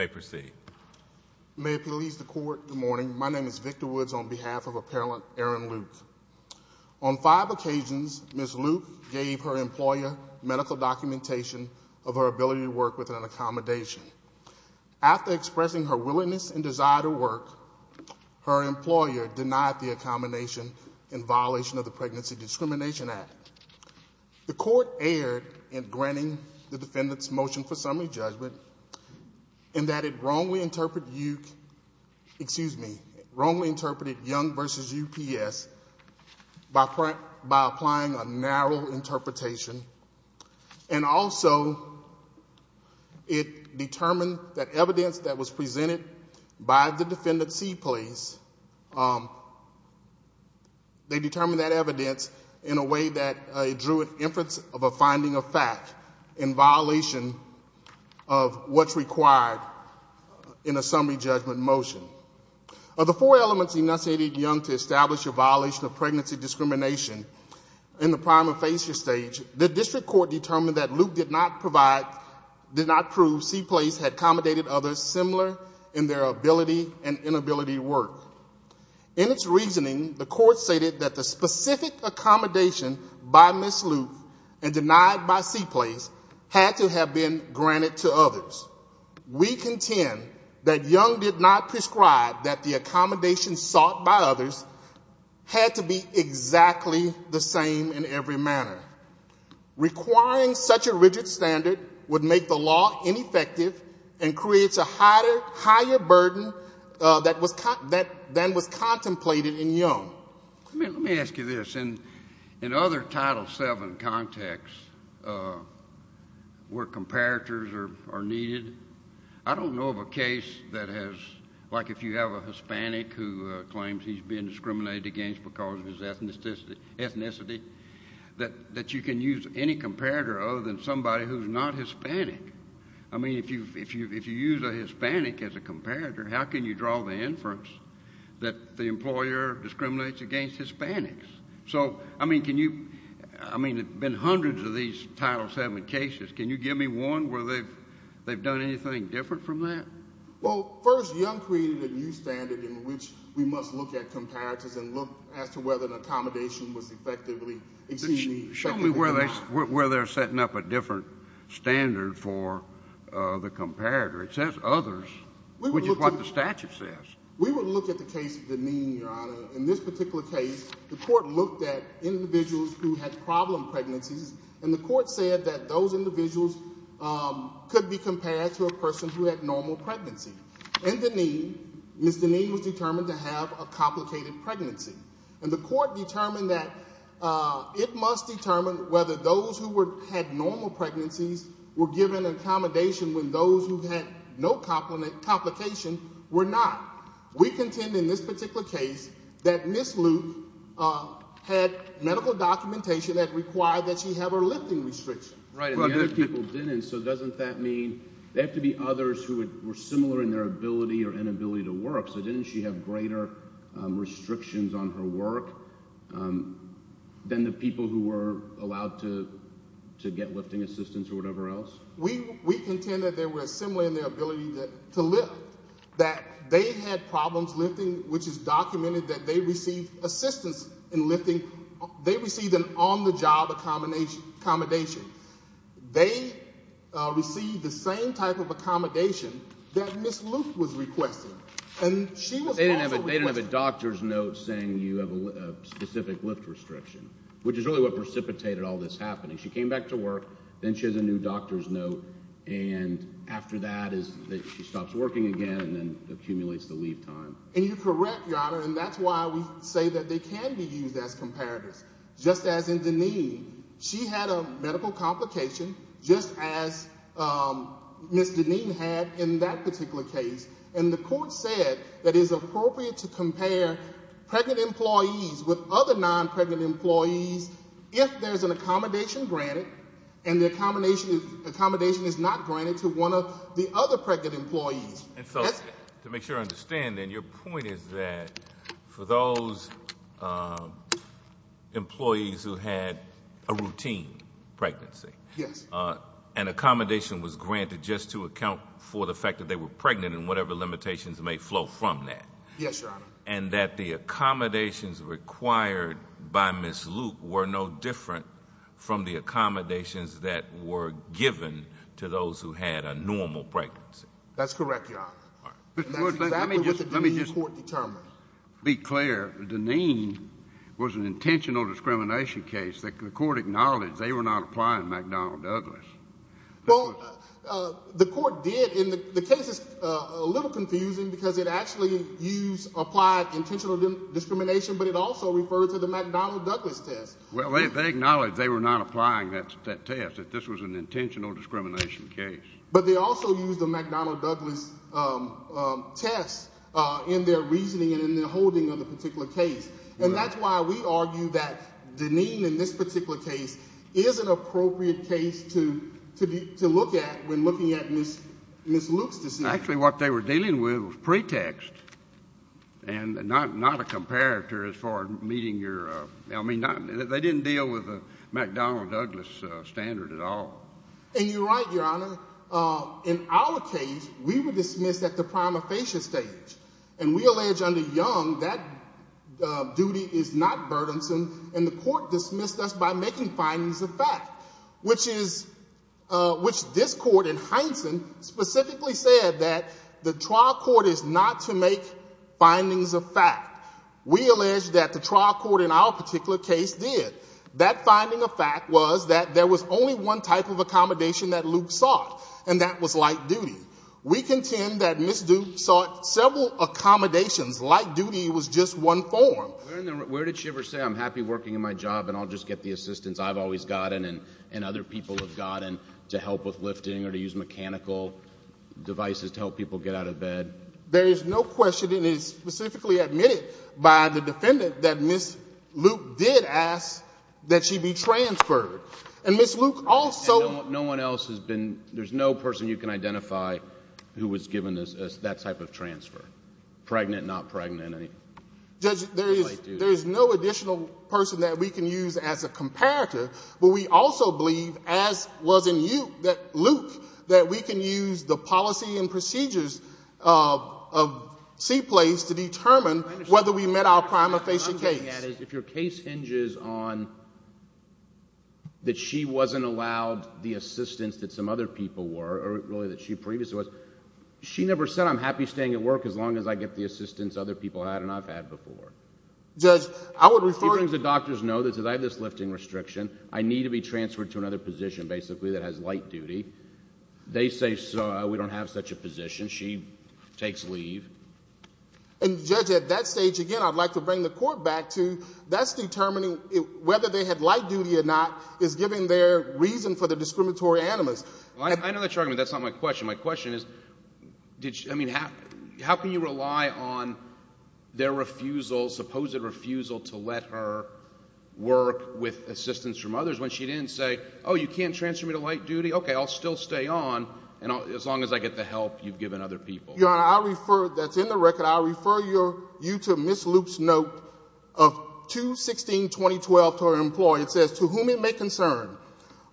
On five occasions, Ms. Luke gave her employer medical documentation of her ability to work with an accommodation. After expressing her willingness and desire to work, her employer denied the accommodation in violation of the Pregnancy Discrimination Act. The Court erred in granting the defendant's motion for summary judgment in that it wrongly interpreted Young v. UPS by applying a narrow interpretation, and also it determined that evidence that was presented by the defendant, CPlace, they determined that evidence in a way that it drew an inference of a finding of fact in violation of what's required in a summary judgment motion. Of the four elements enunciated in Young v. UPS to establish a violation of pregnancy discrimination in the prima facie stage, the District Court determined that Luke did not prove CPlace had accommodated others similar in their ability and inability to work. In its reasoning, the Court stated that the specific accommodation by Ms. Luke and denied by CPlace had to have been granted to others. We contend that Young did not prescribe that the accommodation sought by others had to be exactly the same in every manner. Requiring such a rigid standard would make the law ineffective and creates a higher burden that was contemplated in Young. Well, let me ask you this. In other Title VII contexts where comparators are needed, I don't know of a case that has like if you have a Hispanic who claims he's being discriminated against because of his ethnicity that you can use any comparator other than somebody who's not Hispanic. I mean, if you use a Hispanic as a comparator, how can you draw the inference that the employer discriminates against Hispanics? So I mean, can you, I mean, there have been hundreds of these Title VII cases. Can you give me one where they've done anything different from that? Well, first, Young created a new standard in which we must look at comparators and look as to whether an accommodation was effectively exceeding the expectation. Show me where they're setting up a different standard for the comparator. It says others, which is what the statute says. We will look at the case of Deneen, Your Honor. In this particular case, the court looked at individuals who had problem pregnancies and the court said that those individuals could be compared to a person who had normal pregnancy. In Deneen, Ms. Deneen was determined to have a complicated pregnancy. And the court determined that it must determine whether those who had normal pregnancies were We contend in this particular case that Ms. Luke had medical documentation that required that she have her lifting restriction. Right, and the other people didn't, so doesn't that mean they have to be others who were similar in their ability or inability to work, so didn't she have greater restrictions on her work than the people who were allowed to get lifting assistance or whatever else? We contend that they were similar in their ability to lift, that they had problems lifting, which is documented that they received assistance in lifting. They received an on-the-job accommodation. They received the same type of accommodation that Ms. Luke was requested. And she was also requested. They didn't have a doctor's note saying you have a specific lift restriction, which is really what precipitated all this happening. She came back to work, then she has a new doctor's note, and after that she stops working again and then accumulates the leave time. And you're correct, Your Honor, and that's why we say that they can be used as comparators. Just as in Deneen, she had a medical complication just as Ms. Deneen had in that particular case. And the court said that it is appropriate to compare pregnant employees with other non-pregnant employees if there's an accommodation granted and the accommodation is not granted to one of the other pregnant employees. And so, to make sure I understand, then, your point is that for those employees who had a routine pregnancy, an accommodation was granted just to account for the fact that they were pregnant and whatever limitations may flow from that. Yes, Your Honor. And that the accommodations required by Ms. Luke were no different from the accommodations that were given to those who had a normal pregnancy. That's correct, Your Honor. That's exactly what the Deneen court determined. Be clear. Deneen was an intentional discrimination case. The court acknowledged they were not applying McDonnell Douglas. Well, the court did. And the case is a little confusing because it actually used, applied intentional discrimination, but it also referred to the McDonnell Douglas test. Well, they acknowledged they were not applying that test, that this was an intentional discrimination case. But they also used the McDonnell Douglas test in their reasoning and in their holding of the particular case. And that's why we argue that Deneen in this particular case is an appropriate case to look at when looking at Ms. Luke's decision. Actually what they were dealing with was pretext and not a comparator as far as meeting your, I mean, they didn't deal with the McDonnell Douglas standard at all. And you're right, Your Honor. In our case, we were dismissed at the prima facie stage. And we allege under Young that duty is not burdensome and the court dismissed us by making findings of fact, which is, which this court in Heinsohn specifically said that the trial court is not to make findings of fact. We allege that the trial court in our particular case did. That finding of fact was that there was only one type of accommodation that Luke sought and that was light duty. We contend that Ms. Luke sought several accommodations. Light duty was just one form. Where did she ever say, I'm happy working in my job and I'll just get the assistance I've always gotten and other people have gotten to help with lifting or to use mechanical devices to help people get out of bed? There is no question and it is specifically admitted by the defendant that Ms. Luke did ask that she be transferred. And Ms. Luke also- No one else has been, there's no person you can identify who was given that type of transfer. Pregnant, not pregnant. Judge, there is no additional person that we can use as a comparator, but we also believe as was in Luke, that we can use the policy and procedures of C-PLACE to determine whether we met our prima facie case. What I'm getting at is if your case hinges on that she wasn't allowed the assistance that some other people were, or really that she previously was, she never said I'm happy staying at work as long as I get the assistance other people had and I've had before. Judge, I would refer- She brings the doctors know that I have this lifting restriction, I need to be transferred to another position basically that has light duty. They say so, we don't have such a position. She takes leave. And Judge, at that stage again, I'd like to bring the court back to that's determining whether they had light duty or not is giving their reason for the discriminatory animus. I know that you're arguing that's not my question. My question is, how can you rely on their refusal, supposed refusal to let her work with assistance from others when she didn't say, oh, you can't transfer me to light duty? Okay, I'll still stay on as long as I get the help you've given other people. Your Honor, I refer, that's in the record, I refer you to Ms. Luke's note of 2-16-2012 to her employer. It says, to whom it may concern,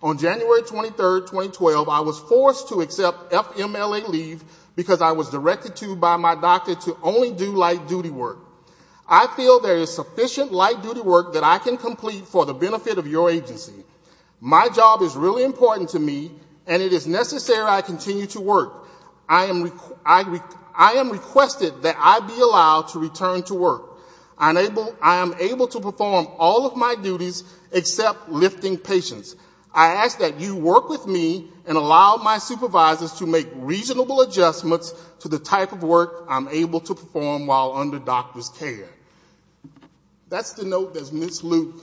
on January 23, 2012, I was forced to accept FMLA leave because I was directed to by my doctor to only do light duty work. I feel there is sufficient light duty work that I can complete for the benefit of your agency. My job is really important to me and it is necessary I continue to work. I am requested that I be allowed to return to work. I am able to perform all of my duties except lifting patients. I ask that you work with me and allow my supervisors to make reasonable adjustments to the type of work I'm able to perform while under doctor's care. That's the note that Ms. Luke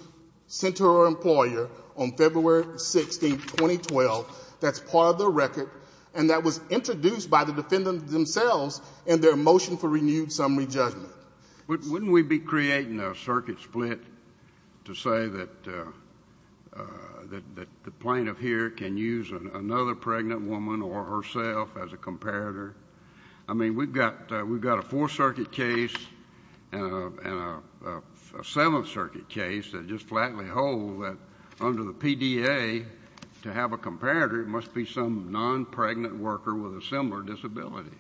sent to her employer on February 16, 2012. That's part of the record and that was introduced by the defendant themselves in their motion for renewed summary judgment. Wouldn't we be creating a circuit split to say that the plaintiff here can use another pregnant woman or herself as a comparator? I mean, we've got a 4th Circuit case and a 7th Circuit case that just flatly hold that under the PDA to have a comparator must be some non-pregnant worker with a similar disability.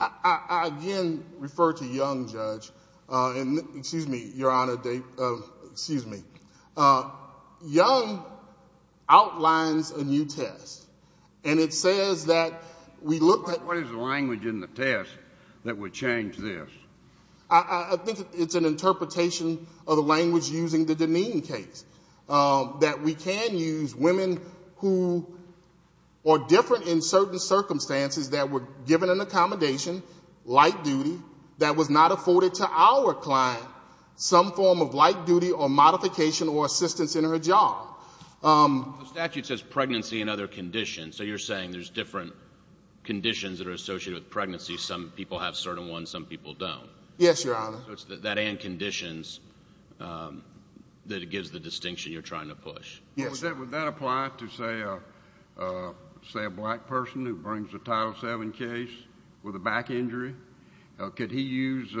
I again refer to Young, Judge, and excuse me, Your Honor, excuse me. Young outlines a new test and it says that we look at... What is the language in the test that would change this? I think it's an interpretation of the language using the Dineen case, that we can use women who are different in certain circumstances that were given an accommodation, light duty, that was not afforded to our client some form of light duty or modification or assistance in her job. The statute says pregnancy and other conditions, so you're saying there's different conditions that are associated with pregnancy. Some people have certain ones, some people don't. Yes, Your Honor. That and conditions that it gives the distinction you're trying to push. Yes. Would that apply to say a black person who brings a Title VII case with a back injury? Could he use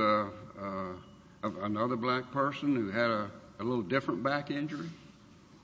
another black person who had a little different back injury?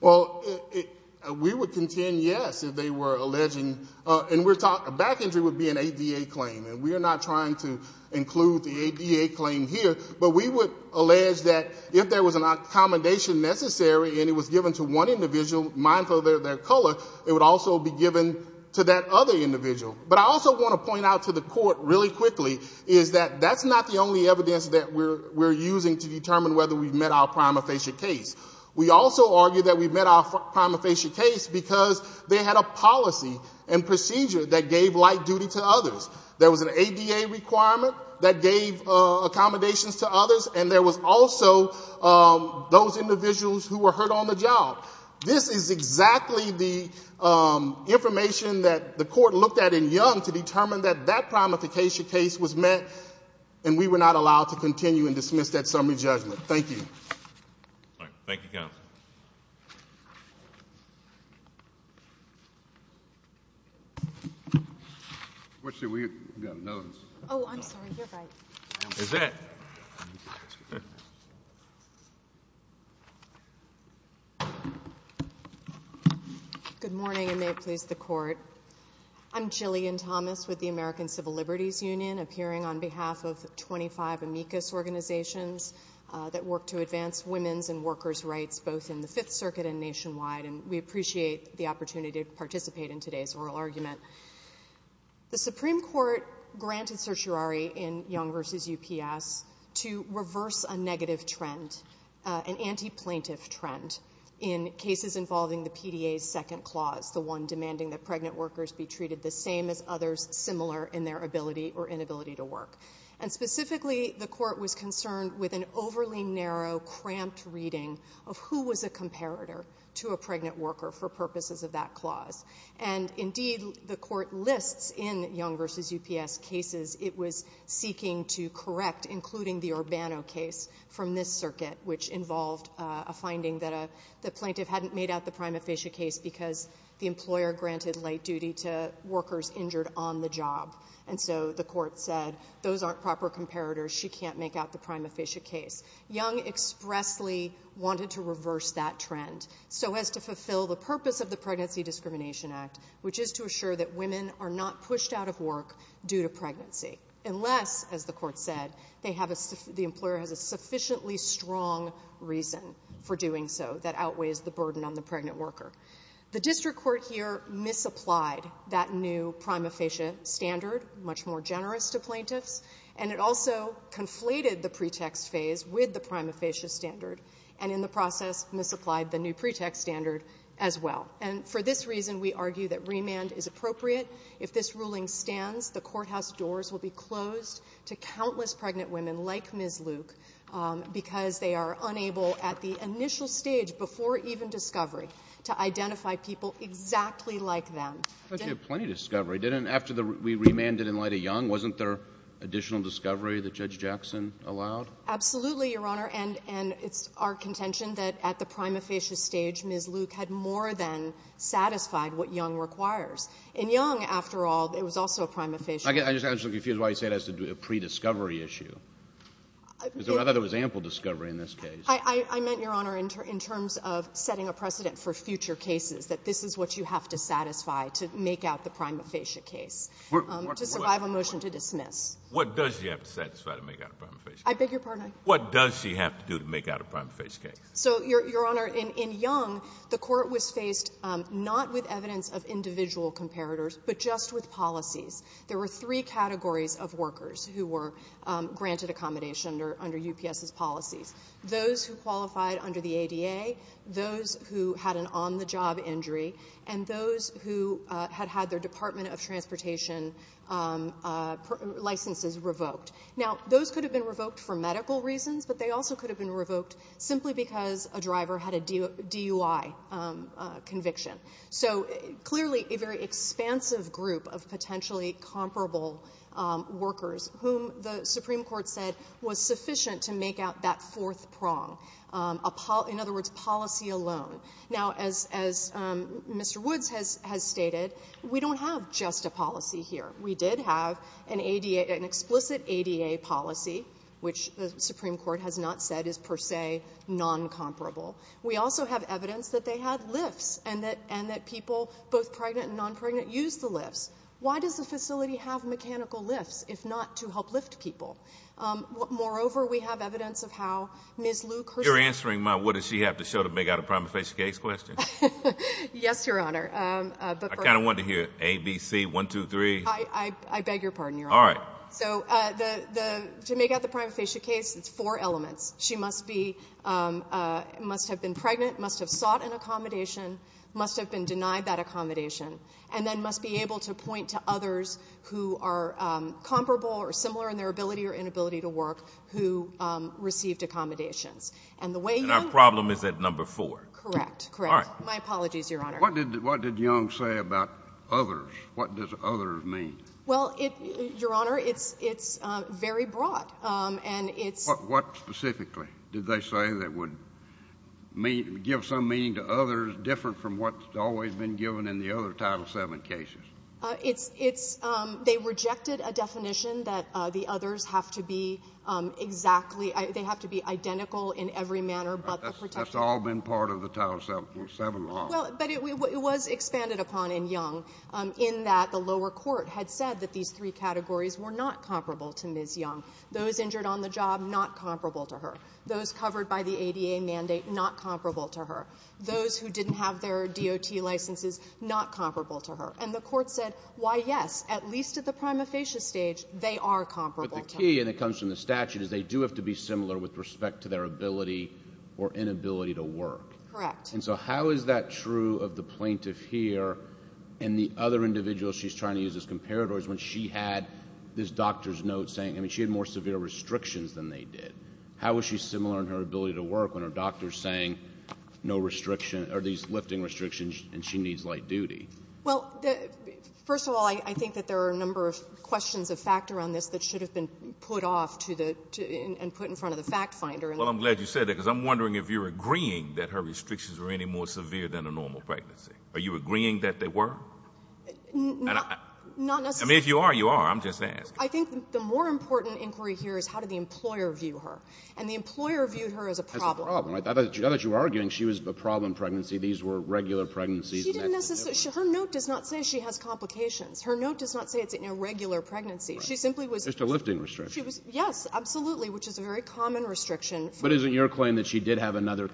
We would contend yes, if they were alleging... A back injury would be an ADA claim and we're not trying to include the ADA claim here, but we would allege that if there was an accommodation necessary and it was given to one individual, mindful of their color, it would also be given to that other individual. But I also want to point out to the court really quickly is that that's not the only evidence that we're using to determine whether we've met our prima facie case. We also argue that we've met our prima facie case because they had a policy and procedure that gave light duty to others. There was an ADA requirement that gave accommodations to others and there was also those individuals who were hurt on the job. This is exactly the information that the court looked at in Young to determine that that prima facie case was met and we were not allowed to continue and dismiss that summary judgment. All right. Thank you, counsel. Ms. Thomas. What should we... We've got another. Oh, I'm sorry. You're right. Is that... Good morning and may it please the court. I'm Jillian Thomas with the American Civil Liberties Union appearing on behalf of 25 organizations that work to advance women's and workers' rights both in the Fifth Circuit and nationwide. And we appreciate the opportunity to participate in today's oral argument. The Supreme Court granted certiorari in Young v. UPS to reverse a negative trend, an anti-plaintiff trend in cases involving the PDA's second clause, the one demanding that pregnant workers be treated the same as others similar in their ability or inability to work. And specifically, the court was concerned with an overly narrow, cramped reading of who was a comparator to a pregnant worker for purposes of that clause. And indeed, the court lists in Young v. UPS cases it was seeking to correct, including the Urbano case from this circuit, which involved a finding that the plaintiff hadn't made out the prima facie case because the employer granted light duty to workers injured on the job. And so the court said, those aren't proper comparators. She can't make out the prima facie case. Young expressly wanted to reverse that trend so as to fulfill the purpose of the Pregnancy Discrimination Act, which is to assure that women are not pushed out of work due to pregnancy unless, as the court said, the employer has a sufficiently strong reason for doing so that outweighs the burden on the pregnant worker. The district court here misapplied that new prima facie standard, much more generous to plaintiffs. And it also conflated the pretext phase with the prima facie standard, and in the process misapplied the new pretext standard as well. And for this reason, we argue that remand is appropriate. If this ruling stands, the courthouse doors will be closed to countless pregnant women like Ms. Luke because they are unable, at the initial stage, before even discovery, to identify people exactly like them. But you had plenty of discovery, didn't you? After we remanded in light of Young, wasn't there additional discovery that Judge Jackson allowed? Absolutely, Your Honor. And it's our contention that at the prima facie stage, Ms. Luke had more than satisfied what Young requires. In Young, after all, it was also a prima facie case. I'm just confused why you say it has to do with a pre-discovery issue. I thought there was ample discovery in this case. I meant, Your Honor, in terms of setting a precedent for future cases, that this is what you have to satisfy to make out the prima facie case, to survive a motion to dismiss. What does she have to satisfy to make out a prima facie case? I beg your pardon? What does she have to do to make out a prima facie case? So Your Honor, in Young, the court was faced not with evidence of individual comparators, but just with policies. There were three categories of workers who were granted accommodation under UPS's policies. Those who qualified under the ADA, those who had an on-the-job injury, and those who had had their Department of Transportation licenses revoked. Now, those could have been revoked for medical reasons, but they also could have been revoked simply because a driver had a DUI conviction. So clearly, a very expansive group of potentially comparable workers whom the Supreme Court said was sufficient to make out that fourth prong, in other words, policy alone. Now, as Mr. Woods has stated, we don't have just a policy here. We did have an explicit ADA policy, which the Supreme Court has not said is per se non-comparable. We also have evidence that they had lifts, and that people, both pregnant and non-pregnant, used the lifts. Why does the facility have mechanical lifts, if not to help lift people? Moreover, we have evidence of how Ms. Luke herself— You're answering my, what does she have to show to make out a prima facie case question? Yes, Your Honor. I kind of wanted to hear A, B, C, 1, 2, 3. I beg your pardon, Your Honor? All right. So, to make out the prima facie case, it's four elements. She must be, must have been pregnant, must have sought an accommodation, must have been denied that accommodation, and then must be able to point to others who are comparable or similar in their ability or inability to work who received accommodations. And the way you— And our problem is at number four. Correct. Correct. All right. My apologies, Your Honor. What did Young say about others? What does others mean? Well, Your Honor, it's very broad. And it's— What specifically did they say that would give some meaning to others different from what's always been given in the other Title VII cases? They rejected a definition that the others have to be exactly, they have to be identical in every manner but the protected— That's all been part of the Title VII law. Well, but it was expanded upon in Young in that the lower court had said that these three categories were not comparable to Ms. Young. Those injured on the job, not comparable to her. Those covered by the ADA mandate, not comparable to her. Those who didn't have their DOT licenses, not comparable to her. And the court said, why, yes, at least at the prima facie stage, they are comparable to her. But the key, and it comes from the statute, is they do have to be similar with respect to their ability or inability to work. Correct. And so how is that true of the plaintiff here and the other individuals she's trying to use as comparators when she had this doctor's note saying, I mean, she had more severe restrictions than they did? How is she similar in her ability to work when her doctor's saying no restriction, or these lifting restrictions, and she needs light duty? Well, first of all, I think that there are a number of questions of fact around this that should have been put off to the, and put in front of the fact finder. Well, I'm glad you said that because I'm wondering if you're agreeing that her restrictions were any more severe than a normal pregnancy. Are you agreeing that they were? Not necessarily. I mean, if you are, you are. I'm just asking. I think the more important inquiry here is how did the employer view her, and the employer viewed her as a problem. As a problem, right? Now that you're arguing she was a problem in pregnancy, these were regular pregnancies and that's a new one. She didn't necessarily – her note does not say she has complications. Her note does not say it's an irregular pregnancy. She simply was – Just a lifting restriction. She was – yes, absolutely, which is a very common restriction. But isn't your claim that she did have another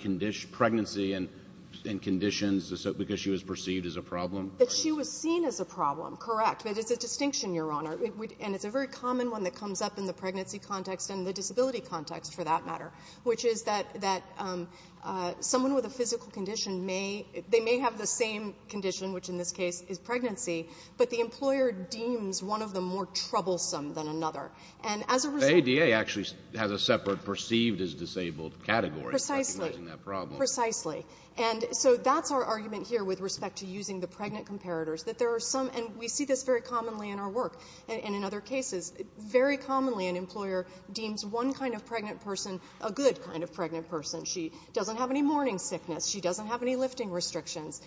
pregnancy and conditions because she was perceived as a problem? That she was seen as a problem, correct. But it's a distinction, Your Honor, and it's a very common one that comes up in the pregnancy context and the disability context, for that matter, which is that someone with a physical condition may – they may have the same condition, which in this case is pregnancy, but the employer deems one of them more troublesome than another. And as a result – The ADA actually has a separate perceived as disabled category for recognizing that problem. Precisely. Precisely. And so that's our argument here with respect to using the pregnant comparators, that there are some – and we see this very commonly in our work and in other cases. Very commonly, an employer deems one kind of pregnant person a good kind of pregnant person. She doesn't have any morning sickness. She doesn't have any lifting restrictions.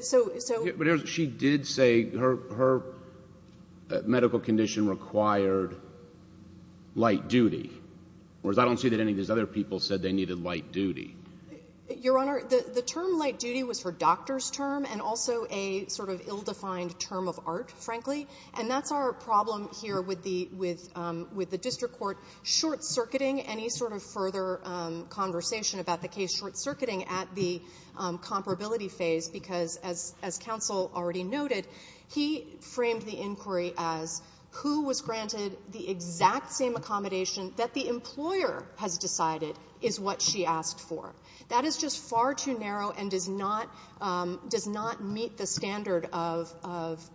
So – But she did say her medical condition required light duty, whereas I don't see that any of these other people said they needed light duty. Your Honor, the term light duty was for doctor's term and also a sort of ill-defined term of art, frankly. And that's our problem here with the – with the district court short-circuiting any sort of further conversation about the case, short-circuiting at the comparability phase because, as counsel already noted, he framed the inquiry as who was granted the she asked for. That is just far too narrow and does not – does not meet the standard of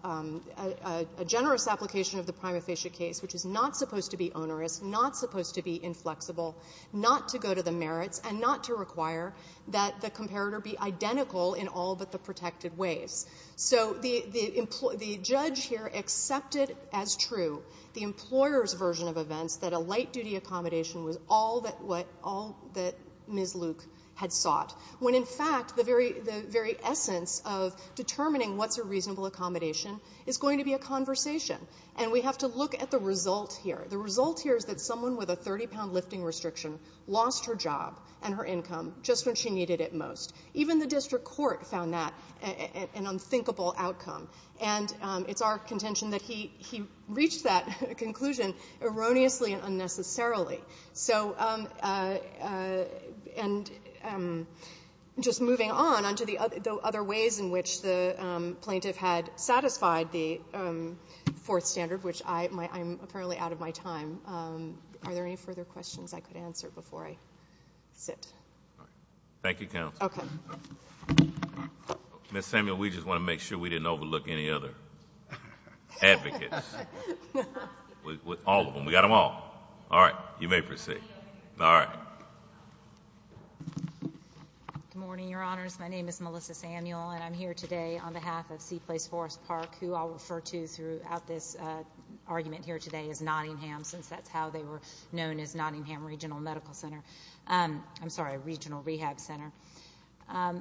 a generous application of the prima facie case, which is not supposed to be onerous, not supposed to be inflexible, not to go to the merits, and not to require that the comparator be identical in all but the protected ways. So the judge here accepted as true the employer's version of events that a light duty accommodation was all that – what all that Ms. Luke had sought, when in fact the very – the very essence of determining what's a reasonable accommodation is going to be a conversation. And we have to look at the result here. The result here is that someone with a 30-pound lifting restriction lost her job and her income just when she needed it most. Even the district court found that an unthinkable outcome. And it's our contention that he reached that conclusion erroneously and unnecessarily. So – and just moving on, on to the other ways in which the plaintiff had satisfied the fourth standard, which I – I'm apparently out of my time. Are there any further questions I could answer before I sit? Thank you, counsel. Okay. Ms. Samuel, we just want to make sure we didn't overlook any other advocates. All of them. We got them all. All right. You may proceed. All right. Good morning, Your Honors. My name is Melissa Samuel, and I'm here today on behalf of C-Place Forest Park, who I'll refer to throughout this argument here today as Nottingham, since that's how they were known as Nottingham Regional Medical Center – I'm sorry, Regional Rehab Center. I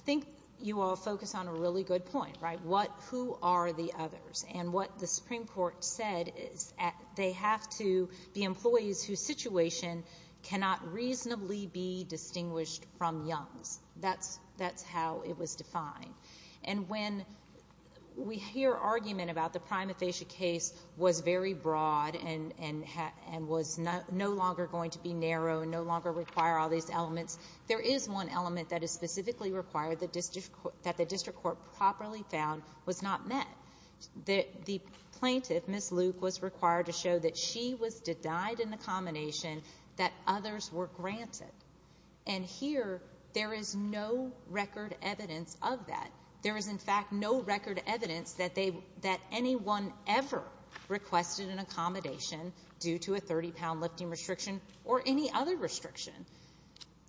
think you all focus on a really good point, right? What – who are the others? And what the Supreme Court said is they have to be employees whose situation cannot reasonably be distinguished from Young's. That's how it was defined. And when we hear argument about the prima facie case was very broad and was no longer going to be narrow and no longer require all these elements, there is one element that is specifically required that the district court properly found was not met. The plaintiff, Ms. Luke, was required to show that she was denied an accommodation that others were granted. And here, there is no record evidence of that. There is, in fact, no record evidence that anyone ever requested an accommodation due to a 30-pound lifting restriction or any other restriction.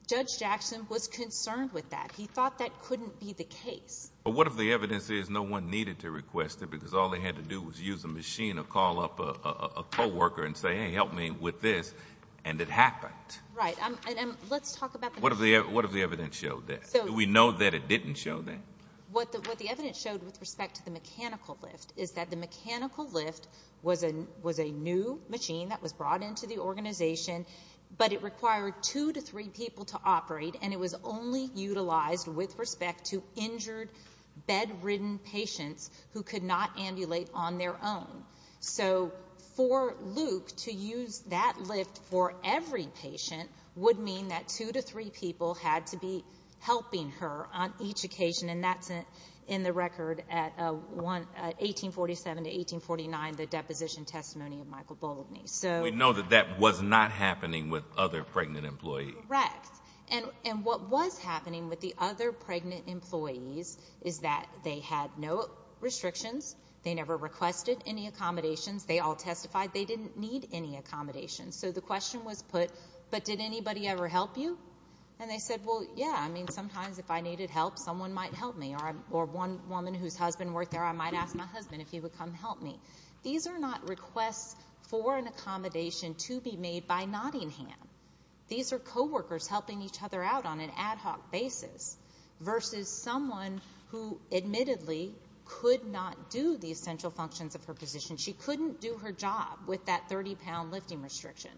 Judge Jackson was concerned with that. He thought that couldn't be the case. What if the evidence is no one needed to request it because all they had to do was use a machine or call up a co-worker and say, hey, help me with this, and it happened? Right. And let's talk about that. What if the evidence showed that? Do we know that it didn't show that? What the evidence showed with respect to the mechanical lift is that the mechanical lift was a new machine that was brought into the organization, but it required two to three people to operate, and it was only utilized with respect to injured, bed-ridden patients who could not ambulate on their own. So for Luke to use that lift for every patient would mean that two to three people had to be helping her on each occasion, and that's in the record at 1847 to 1849, the deposition testimony of Michael Bolivny. We know that that was not happening with other pregnant employees. Correct. And what was happening with the other pregnant employees is that they had no restrictions. They never requested any accommodations. They all testified they didn't need any accommodations. So the question was put, but did anybody ever help you? And they said, well, yeah. I mean, sometimes if I needed help, someone might help me, or one woman whose husband worked there, I might ask my husband if he would come help me. These are not requests for an accommodation to be made by Nottingham. These are co-workers helping each other out on an ad hoc basis versus someone who admittedly could not do the essential functions of her position. She couldn't do her job with that 30-pound lifting restriction.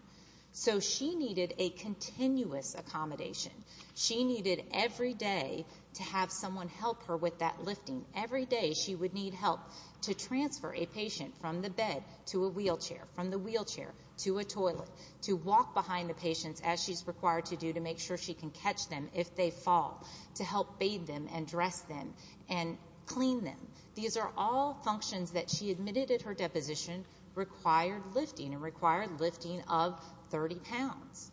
So she needed a continuous accommodation. She needed every day to have someone help her with that lifting. Every day she would need help to transfer a patient from the bed to a wheelchair, from the wheelchair to a toilet, to walk behind the patients as she's required to do to make sure she can catch them if they fall, to help bathe them and dress them and clean them. These are all functions that she admitted at her deposition required lifting and required lifting of 30 pounds.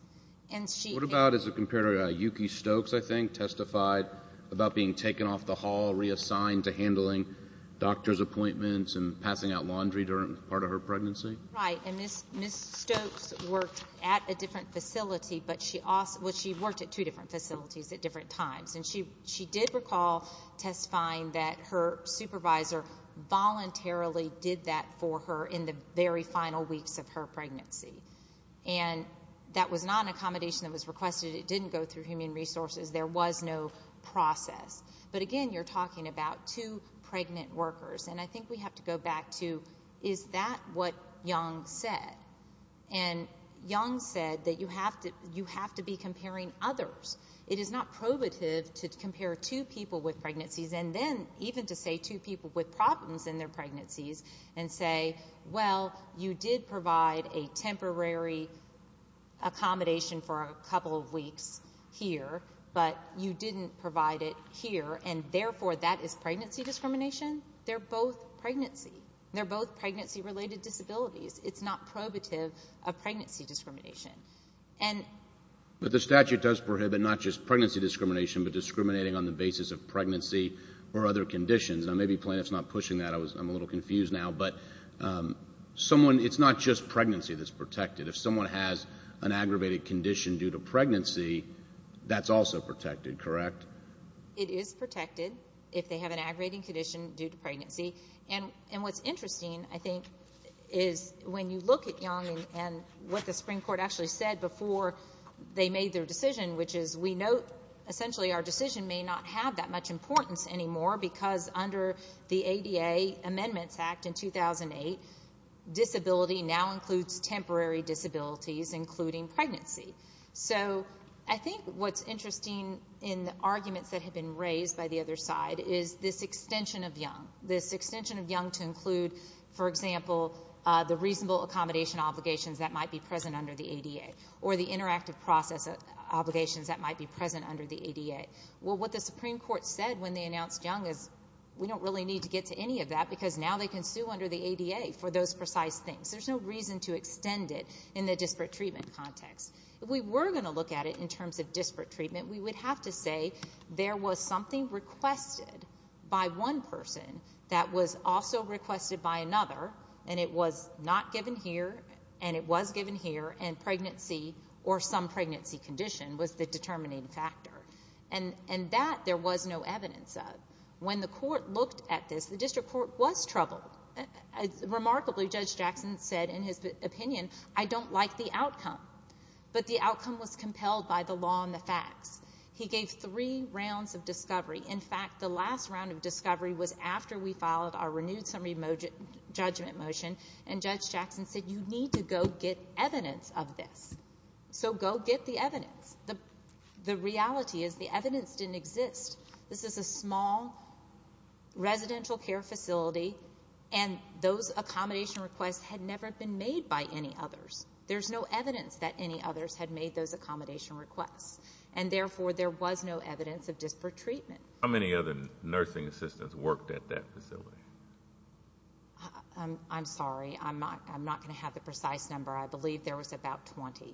And she— What about as a comparator? Yuki Stokes, I think, testified about being taken off the hall, reassigned to handling doctor's appointments and passing out laundry during part of her pregnancy. Right. And Ms. Stokes worked at a different facility, but she also—well, she worked at two different facilities at different times. And she did recall testifying that her supervisor voluntarily did that for her in the very final weeks of her pregnancy. And that was not an accommodation that was requested. It didn't go through Human Resources. There was no process. But again, you're talking about two pregnant workers. And I think we have to go back to, is that what Young said? And Young said that you have to be comparing others. It is not probative to compare two people with pregnancies and then even to say two people with problems in their pregnancies and say, well, you did provide a temporary accommodation for a couple of weeks here, but you didn't provide it here, and therefore that is pregnancy discrimination. They're both pregnancy. They're both pregnancy-related disabilities. It's not probative of pregnancy discrimination. And— But the statute does prohibit not just pregnancy discrimination, but discriminating on the basis of pregnancy or other conditions. Now, maybe plaintiff's not pushing that. I'm a little confused now. But someone—it's not just pregnancy that's protected. If someone has an aggravated condition due to pregnancy, that's also protected, correct? It is protected. If they have an aggravated condition due to pregnancy. And what's interesting, I think, is when you look at Young and what the Supreme Court actually said before they made their decision, which is, we note essentially our decision may not have that much importance anymore because under the ADA Amendments Act in 2008, disability now includes temporary disabilities, including pregnancy. So I think what's interesting in the arguments that have been raised by the other side is this extension of Young. This extension of Young to include, for example, the reasonable accommodation obligations that might be present under the ADA, or the interactive process obligations that might be present under the ADA. Well, what the Supreme Court said when they announced Young is, we don't really need to get to any of that because now they can sue under the ADA for those precise things. There's no reason to extend it in the disparate treatment context. If we were going to look at it in terms of disparate treatment, we would have to say there was something requested by one person that was also requested by another, and it was not given here, and it was given here, and pregnancy or some pregnancy condition was the determining factor. And that there was no evidence of. When the court looked at this, the district court was troubled. Remarkably, Judge Jackson said in his opinion, I don't like the outcome. But the outcome was compelled by the law and the facts. He gave three rounds of discovery. In fact, the last round of discovery was after we filed our renewed summary judgment motion, and Judge Jackson said, you need to go get evidence of this. So go get the evidence. The reality is the evidence didn't exist. This is a small residential care facility, and those accommodation requests had never been made by any others. There's no evidence that any others had made those accommodation requests, and therefore there was no evidence of disparate treatment. How many other nursing assistants worked at that facility? I'm sorry. I'm not going to have the precise number. I believe there was about 20.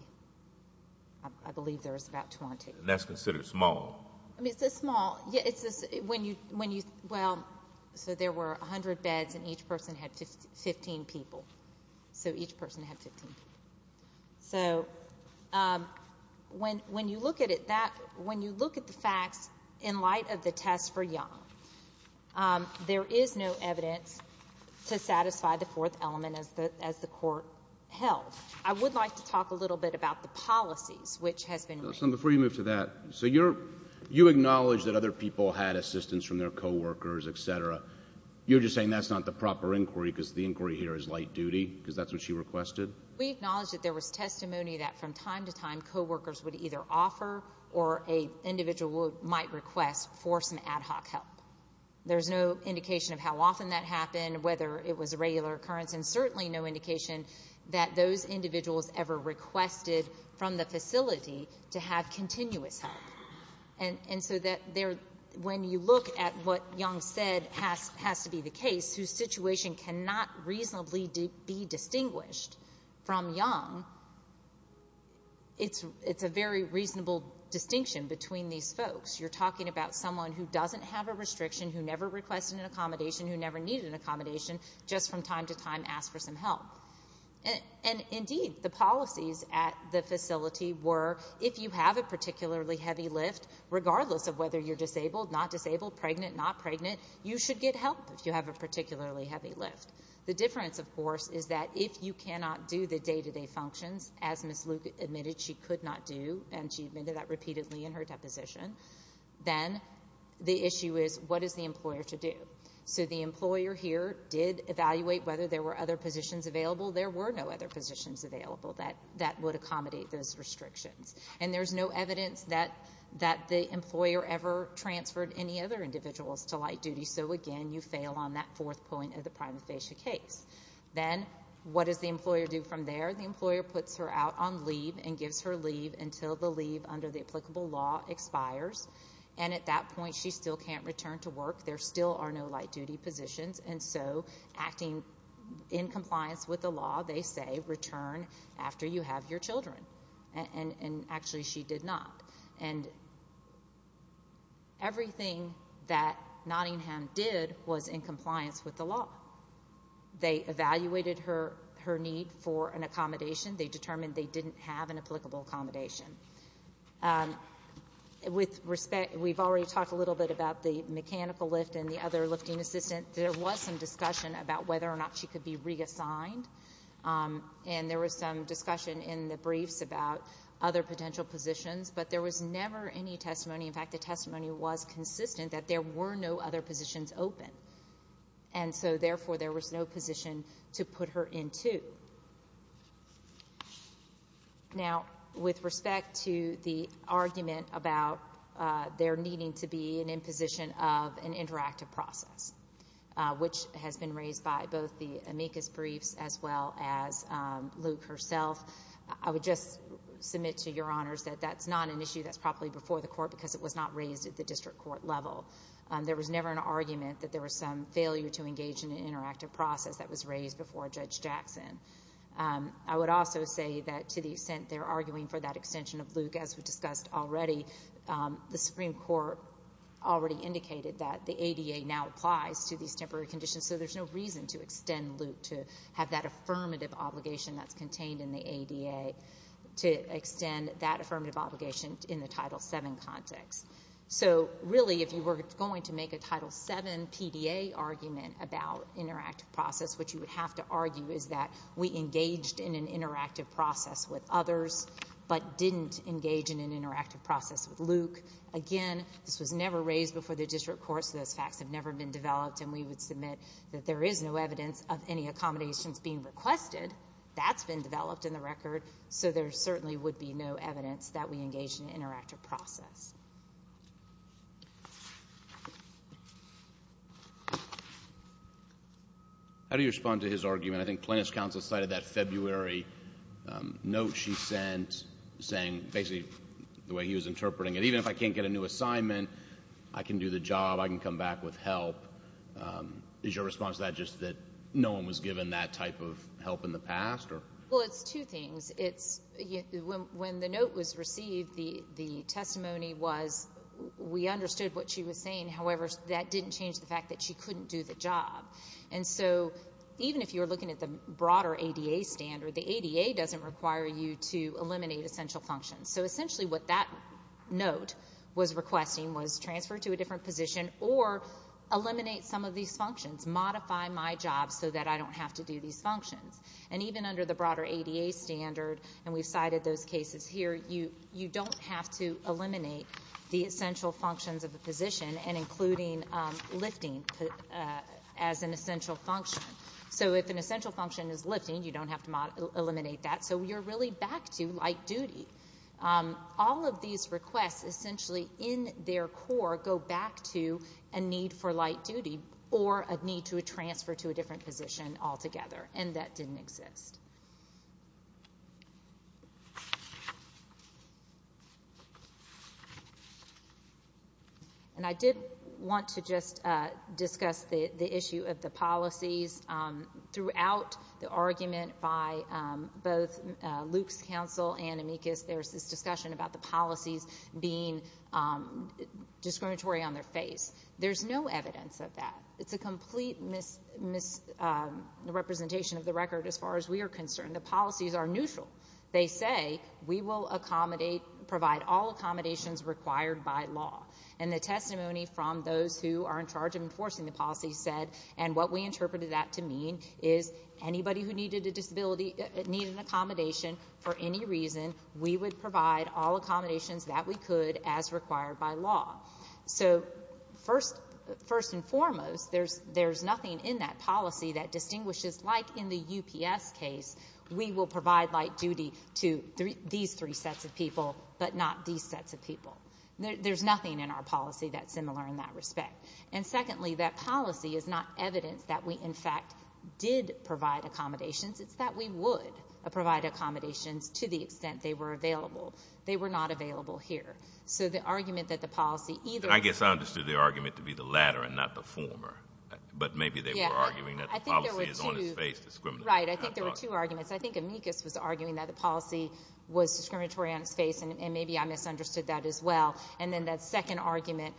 I believe there was about 20. That's considered small. I mean, it's a small—well, so there were 100 beds, and each person had 15 people. So each person had 15 people. So when you look at it, when you look at the facts in light of the test for Young, there is no evidence to satisfy the fourth element, as the court held. I would like to talk a little bit about the policies, which has been— Before you move to that, so you acknowledge that other people had assistance from their co-workers, et cetera. You're just saying that's not the proper inquiry, because the inquiry here is light duty, because that's what she requested? We acknowledge that there was testimony that from time to time, co-workers would either offer or an individual might request for some ad hoc help. There's no indication of how often that happened, whether it was a regular occurrence, and certainly no indication that those individuals ever requested from the facility to have continuous help. And so that there—when you look at what Young said has to be the case, whose situation cannot reasonably be distinguished from Young, it's a very reasonable distinction between these folks. You're talking about someone who doesn't have a restriction, who never requested an accommodation, who never needed an accommodation, just from time to time asked for some help. And indeed, the policies at the facility were, if you have a particularly heavy lift, regardless of whether you're disabled, not disabled, pregnant, not pregnant, you should get help if you have a particularly heavy lift. The difference, of course, is that if you cannot do the day-to-day functions, as Ms. Luke admitted she could not do, and she admitted that repeatedly in her deposition, then the issue is, what is the employer to do? So the employer here did evaluate whether there were other positions available. There were no other positions available that would accommodate those restrictions. And there's no evidence that the employer ever transferred any other individuals to light duty. So again, you fail on that fourth point of the prima facie case. Then what does the employer do from there? The employer puts her out on leave and gives her leave until the leave under the applicable law expires. And at that point, she still can't return to work. There still are no light duty positions. And so acting in compliance with the law, they say, return after you have your children. And actually, she did not. And everything that Nottingham did was in compliance with the law. They evaluated her need for an accommodation. They determined they didn't have an applicable accommodation. With respect, we've already talked a little bit about the mechanical lift and the other lifting assistant. There was some discussion about whether or not she could be reassigned. And there was some discussion in the briefs about other potential positions. But there was never any testimony. In fact, the testimony was consistent that there were no other positions open. And so therefore, there was no position to put her into. Now, with respect to the argument about there needing to be an imposition of an interactive process, which has been raised by both the amicus briefs as well as Luke herself, I would just submit to your honors that that's not an issue that's properly before the court because it was not raised at the district court level. There was never an argument that there was some failure to engage in an interactive process that was raised before Judge Jackson. I would also say that to the extent they're arguing for that extension of Luke, as we discussed already, the Supreme Court already indicated that the ADA now applies to these temporary conditions. So there's no reason to extend Luke to have that affirmative obligation that's contained in the ADA to extend that affirmative obligation in the Title VII context. So really, if you were going to make a Title VII PDA argument about interactive process, what you would have to argue is that we engaged in an interactive process with others, but didn't engage in an interactive process with Luke. Again, this was never raised before the district court, so those facts have never been developed, and we would submit that there is no evidence of any accommodations being requested. That's been developed in the record, so there certainly would be no evidence that we engaged in an interactive process. How do you respond to his argument? I think Plaintiff's counsel cited that February note she sent, saying basically the way he was interpreting it, even if I can't get a new assignment, I can do the job, I can come back with help. Is your response to that just that no one was given that type of help in the past? Well, it's two things. When the note was received, the testimony was, we understood what she was saying, however, that didn't change the fact that she couldn't do the job. And so even if you were looking at the broader ADA standard, the ADA doesn't require you to eliminate essential functions. So essentially what that note was requesting was transfer to a different position or eliminate some of these functions, modify my job so that I don't have to do these functions. And even under the broader ADA standard, and we've cited those cases here, you don't have to eliminate the essential functions of the position and including lifting as an essential function. So if an essential function is lifting, you don't have to eliminate that. So you're really back to light duty. All of these requests essentially in their core go back to a need for light duty or a transfer to a different position altogether, and that didn't exist. And I did want to just discuss the issue of the policies. Throughout the argument by both Luke's counsel and Amicus, there's this discussion about the policies being discriminatory on their face. There's no evidence of that. It's a complete misrepresentation of the record as far as we are concerned. The policies are neutral. They say we will accommodate, provide all accommodations required by law. And the testimony from those who are in charge of enforcing the policy said, and what we interpreted that to mean is anybody who needed an accommodation for any reason, we would provide all accommodations that we could as required by law. So first and foremost, there's nothing in that policy that distinguishes, like in the UPS case, we will provide light duty to these three sets of people, but not these sets of people. There's nothing in our policy that's similar in that respect. And secondly, that policy is not evidence that we in fact did provide accommodations. It's that we would provide accommodations to the extent they were available. They were not available here. So the argument that the policy either- I guess I understood the argument to be the latter and not the former. But maybe they were arguing that the policy is on its face, discriminatory on its face. Right. I think there were two arguments. I think Amicus was arguing that the policy was discriminatory on its face, and maybe I misunderstood that as well. And then that second argument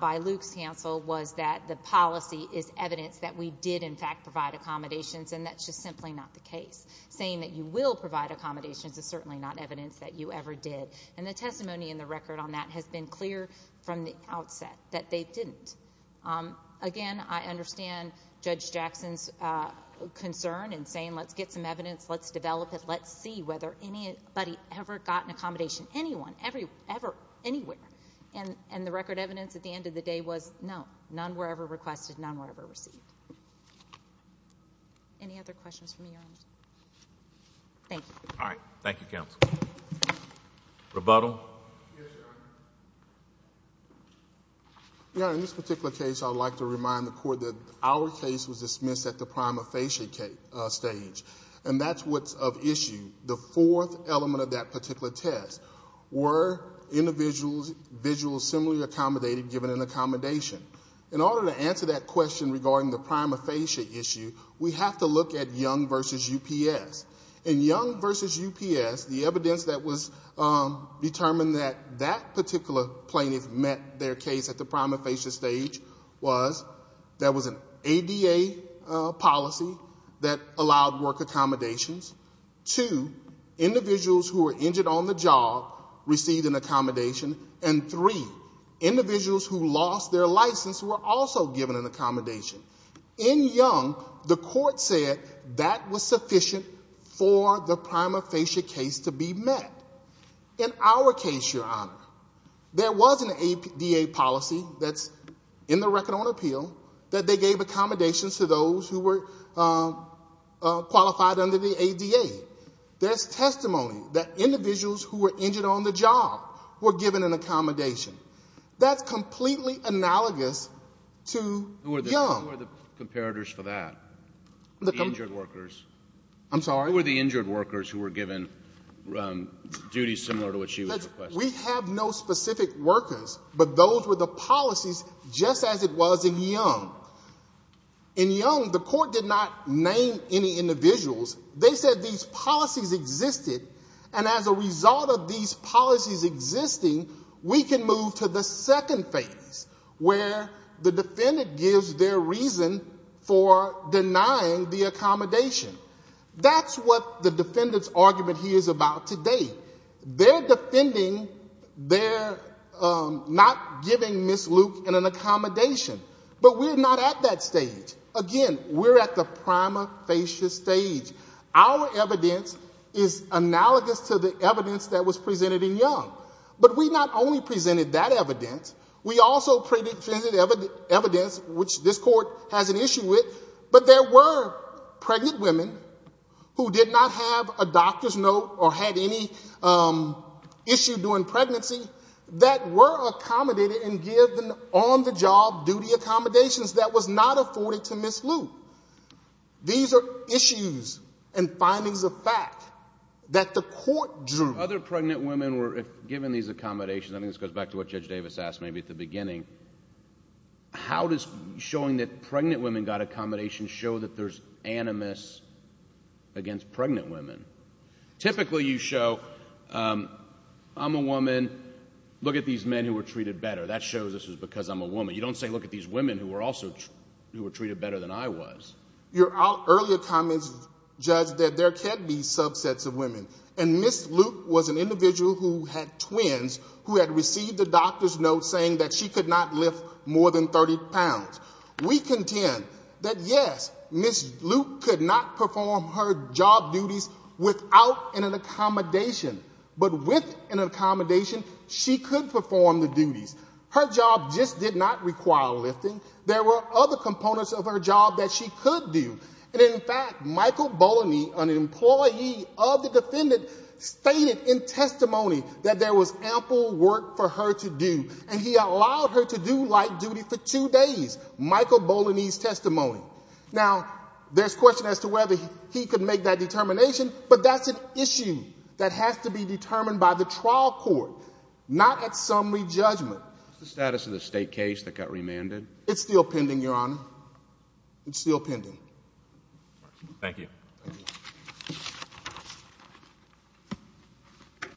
by Luke's counsel was that the policy is evidence that we did in fact provide accommodations, and that's just simply not the case. Saying that you will provide accommodations is certainly not evidence that you ever did. And the testimony in the record on that has been clear from the outset that they didn't. Again, I understand Judge Jackson's concern in saying, let's get some evidence, let's develop it, let's see whether anybody ever got an accommodation, anyone, ever, anywhere. And the record evidence at the end of the day was, no, none were ever requested, none were ever received. Any other questions from you, Your Honor? Thank you. All right. Thank you, counsel. Rebuttal? Yes, Your Honor. Your Honor, in this particular case, I would like to remind the Court that our case was dismissed at the prima facie stage. And that's what's of issue. The fourth element of that particular test, were individuals visually similarly accommodated given an accommodation? In order to answer that question regarding the prima facie issue, we have to look at Young v. UPS. In Young v. UPS, the evidence that was determined that that particular plaintiff met their case at the prima facie stage was, there was an ADA policy that allowed work accommodations. Two, individuals who were injured on the job received an accommodation. And three, individuals who lost their license were also given an accommodation. In Young, the Court said that was sufficient for the prima facie case to be met. In our case, Your Honor, there was an ADA policy that's in the Record on Appeal that they gave accommodations to those who were qualified under the ADA. There's testimony that individuals who were injured on the job were given an accommodation. That's completely analogous to Young. Who are the comparators for that? The injured workers. I'm sorry? Who were the injured workers who were given duties similar to what she was requesting? We have no specific workers, but those were the policies just as it was in Young. In Young, the Court did not name any individuals. They said these policies existed, and as a result of these policies existing, we can move to the second phase, where the defendant gives their reason for denying the accommodation. That's what the defendant's argument here is about today. They're defending their not giving Ms. Luke an accommodation, but we're not at that stage. Again, we're at the prima facie stage. Our evidence is analogous to the evidence that was presented in Young, but we not only presented that evidence, we also presented evidence which this Court has an issue with, but there were pregnant women who did not have a doctor's note or had any issue during pregnancy that were accommodated and given on-the-job duty accommodations that was not afforded to Ms. Luke. These are issues and findings of fact that the Court drew. Other pregnant women were given these accommodations, and this goes back to what Judge Davis asked maybe at the beginning. How does showing that pregnant women got accommodations show that there's animus against pregnant women? Typically, you show, I'm a woman, look at these men who were treated better. That shows this is because I'm a woman. You don't say, look at these women who were also treated better than I was. Your earlier comments, Judge, that there can be subsets of women, and Ms. Luke was an individual who had twins who had received a doctor's note saying that she could not lift more than 30 pounds. We contend that, yes, Ms. Luke could not perform her job duties without an accommodation, but with an accommodation, she could perform the duties. Her job just did not require lifting. There were other components of her job that she could do, and in fact, Michael Bolany, an employee of the defendant, stated in testimony that there was ample work for her to do, and he allowed her to do light duty for two days, Michael Bolany's testimony. Now there's question as to whether he could make that determination, but that's an issue that has to be determined by the trial court, not at summary judgment. What's the status of the state case that got remanded? It's still pending, Your Honor. It's still pending. Thank you.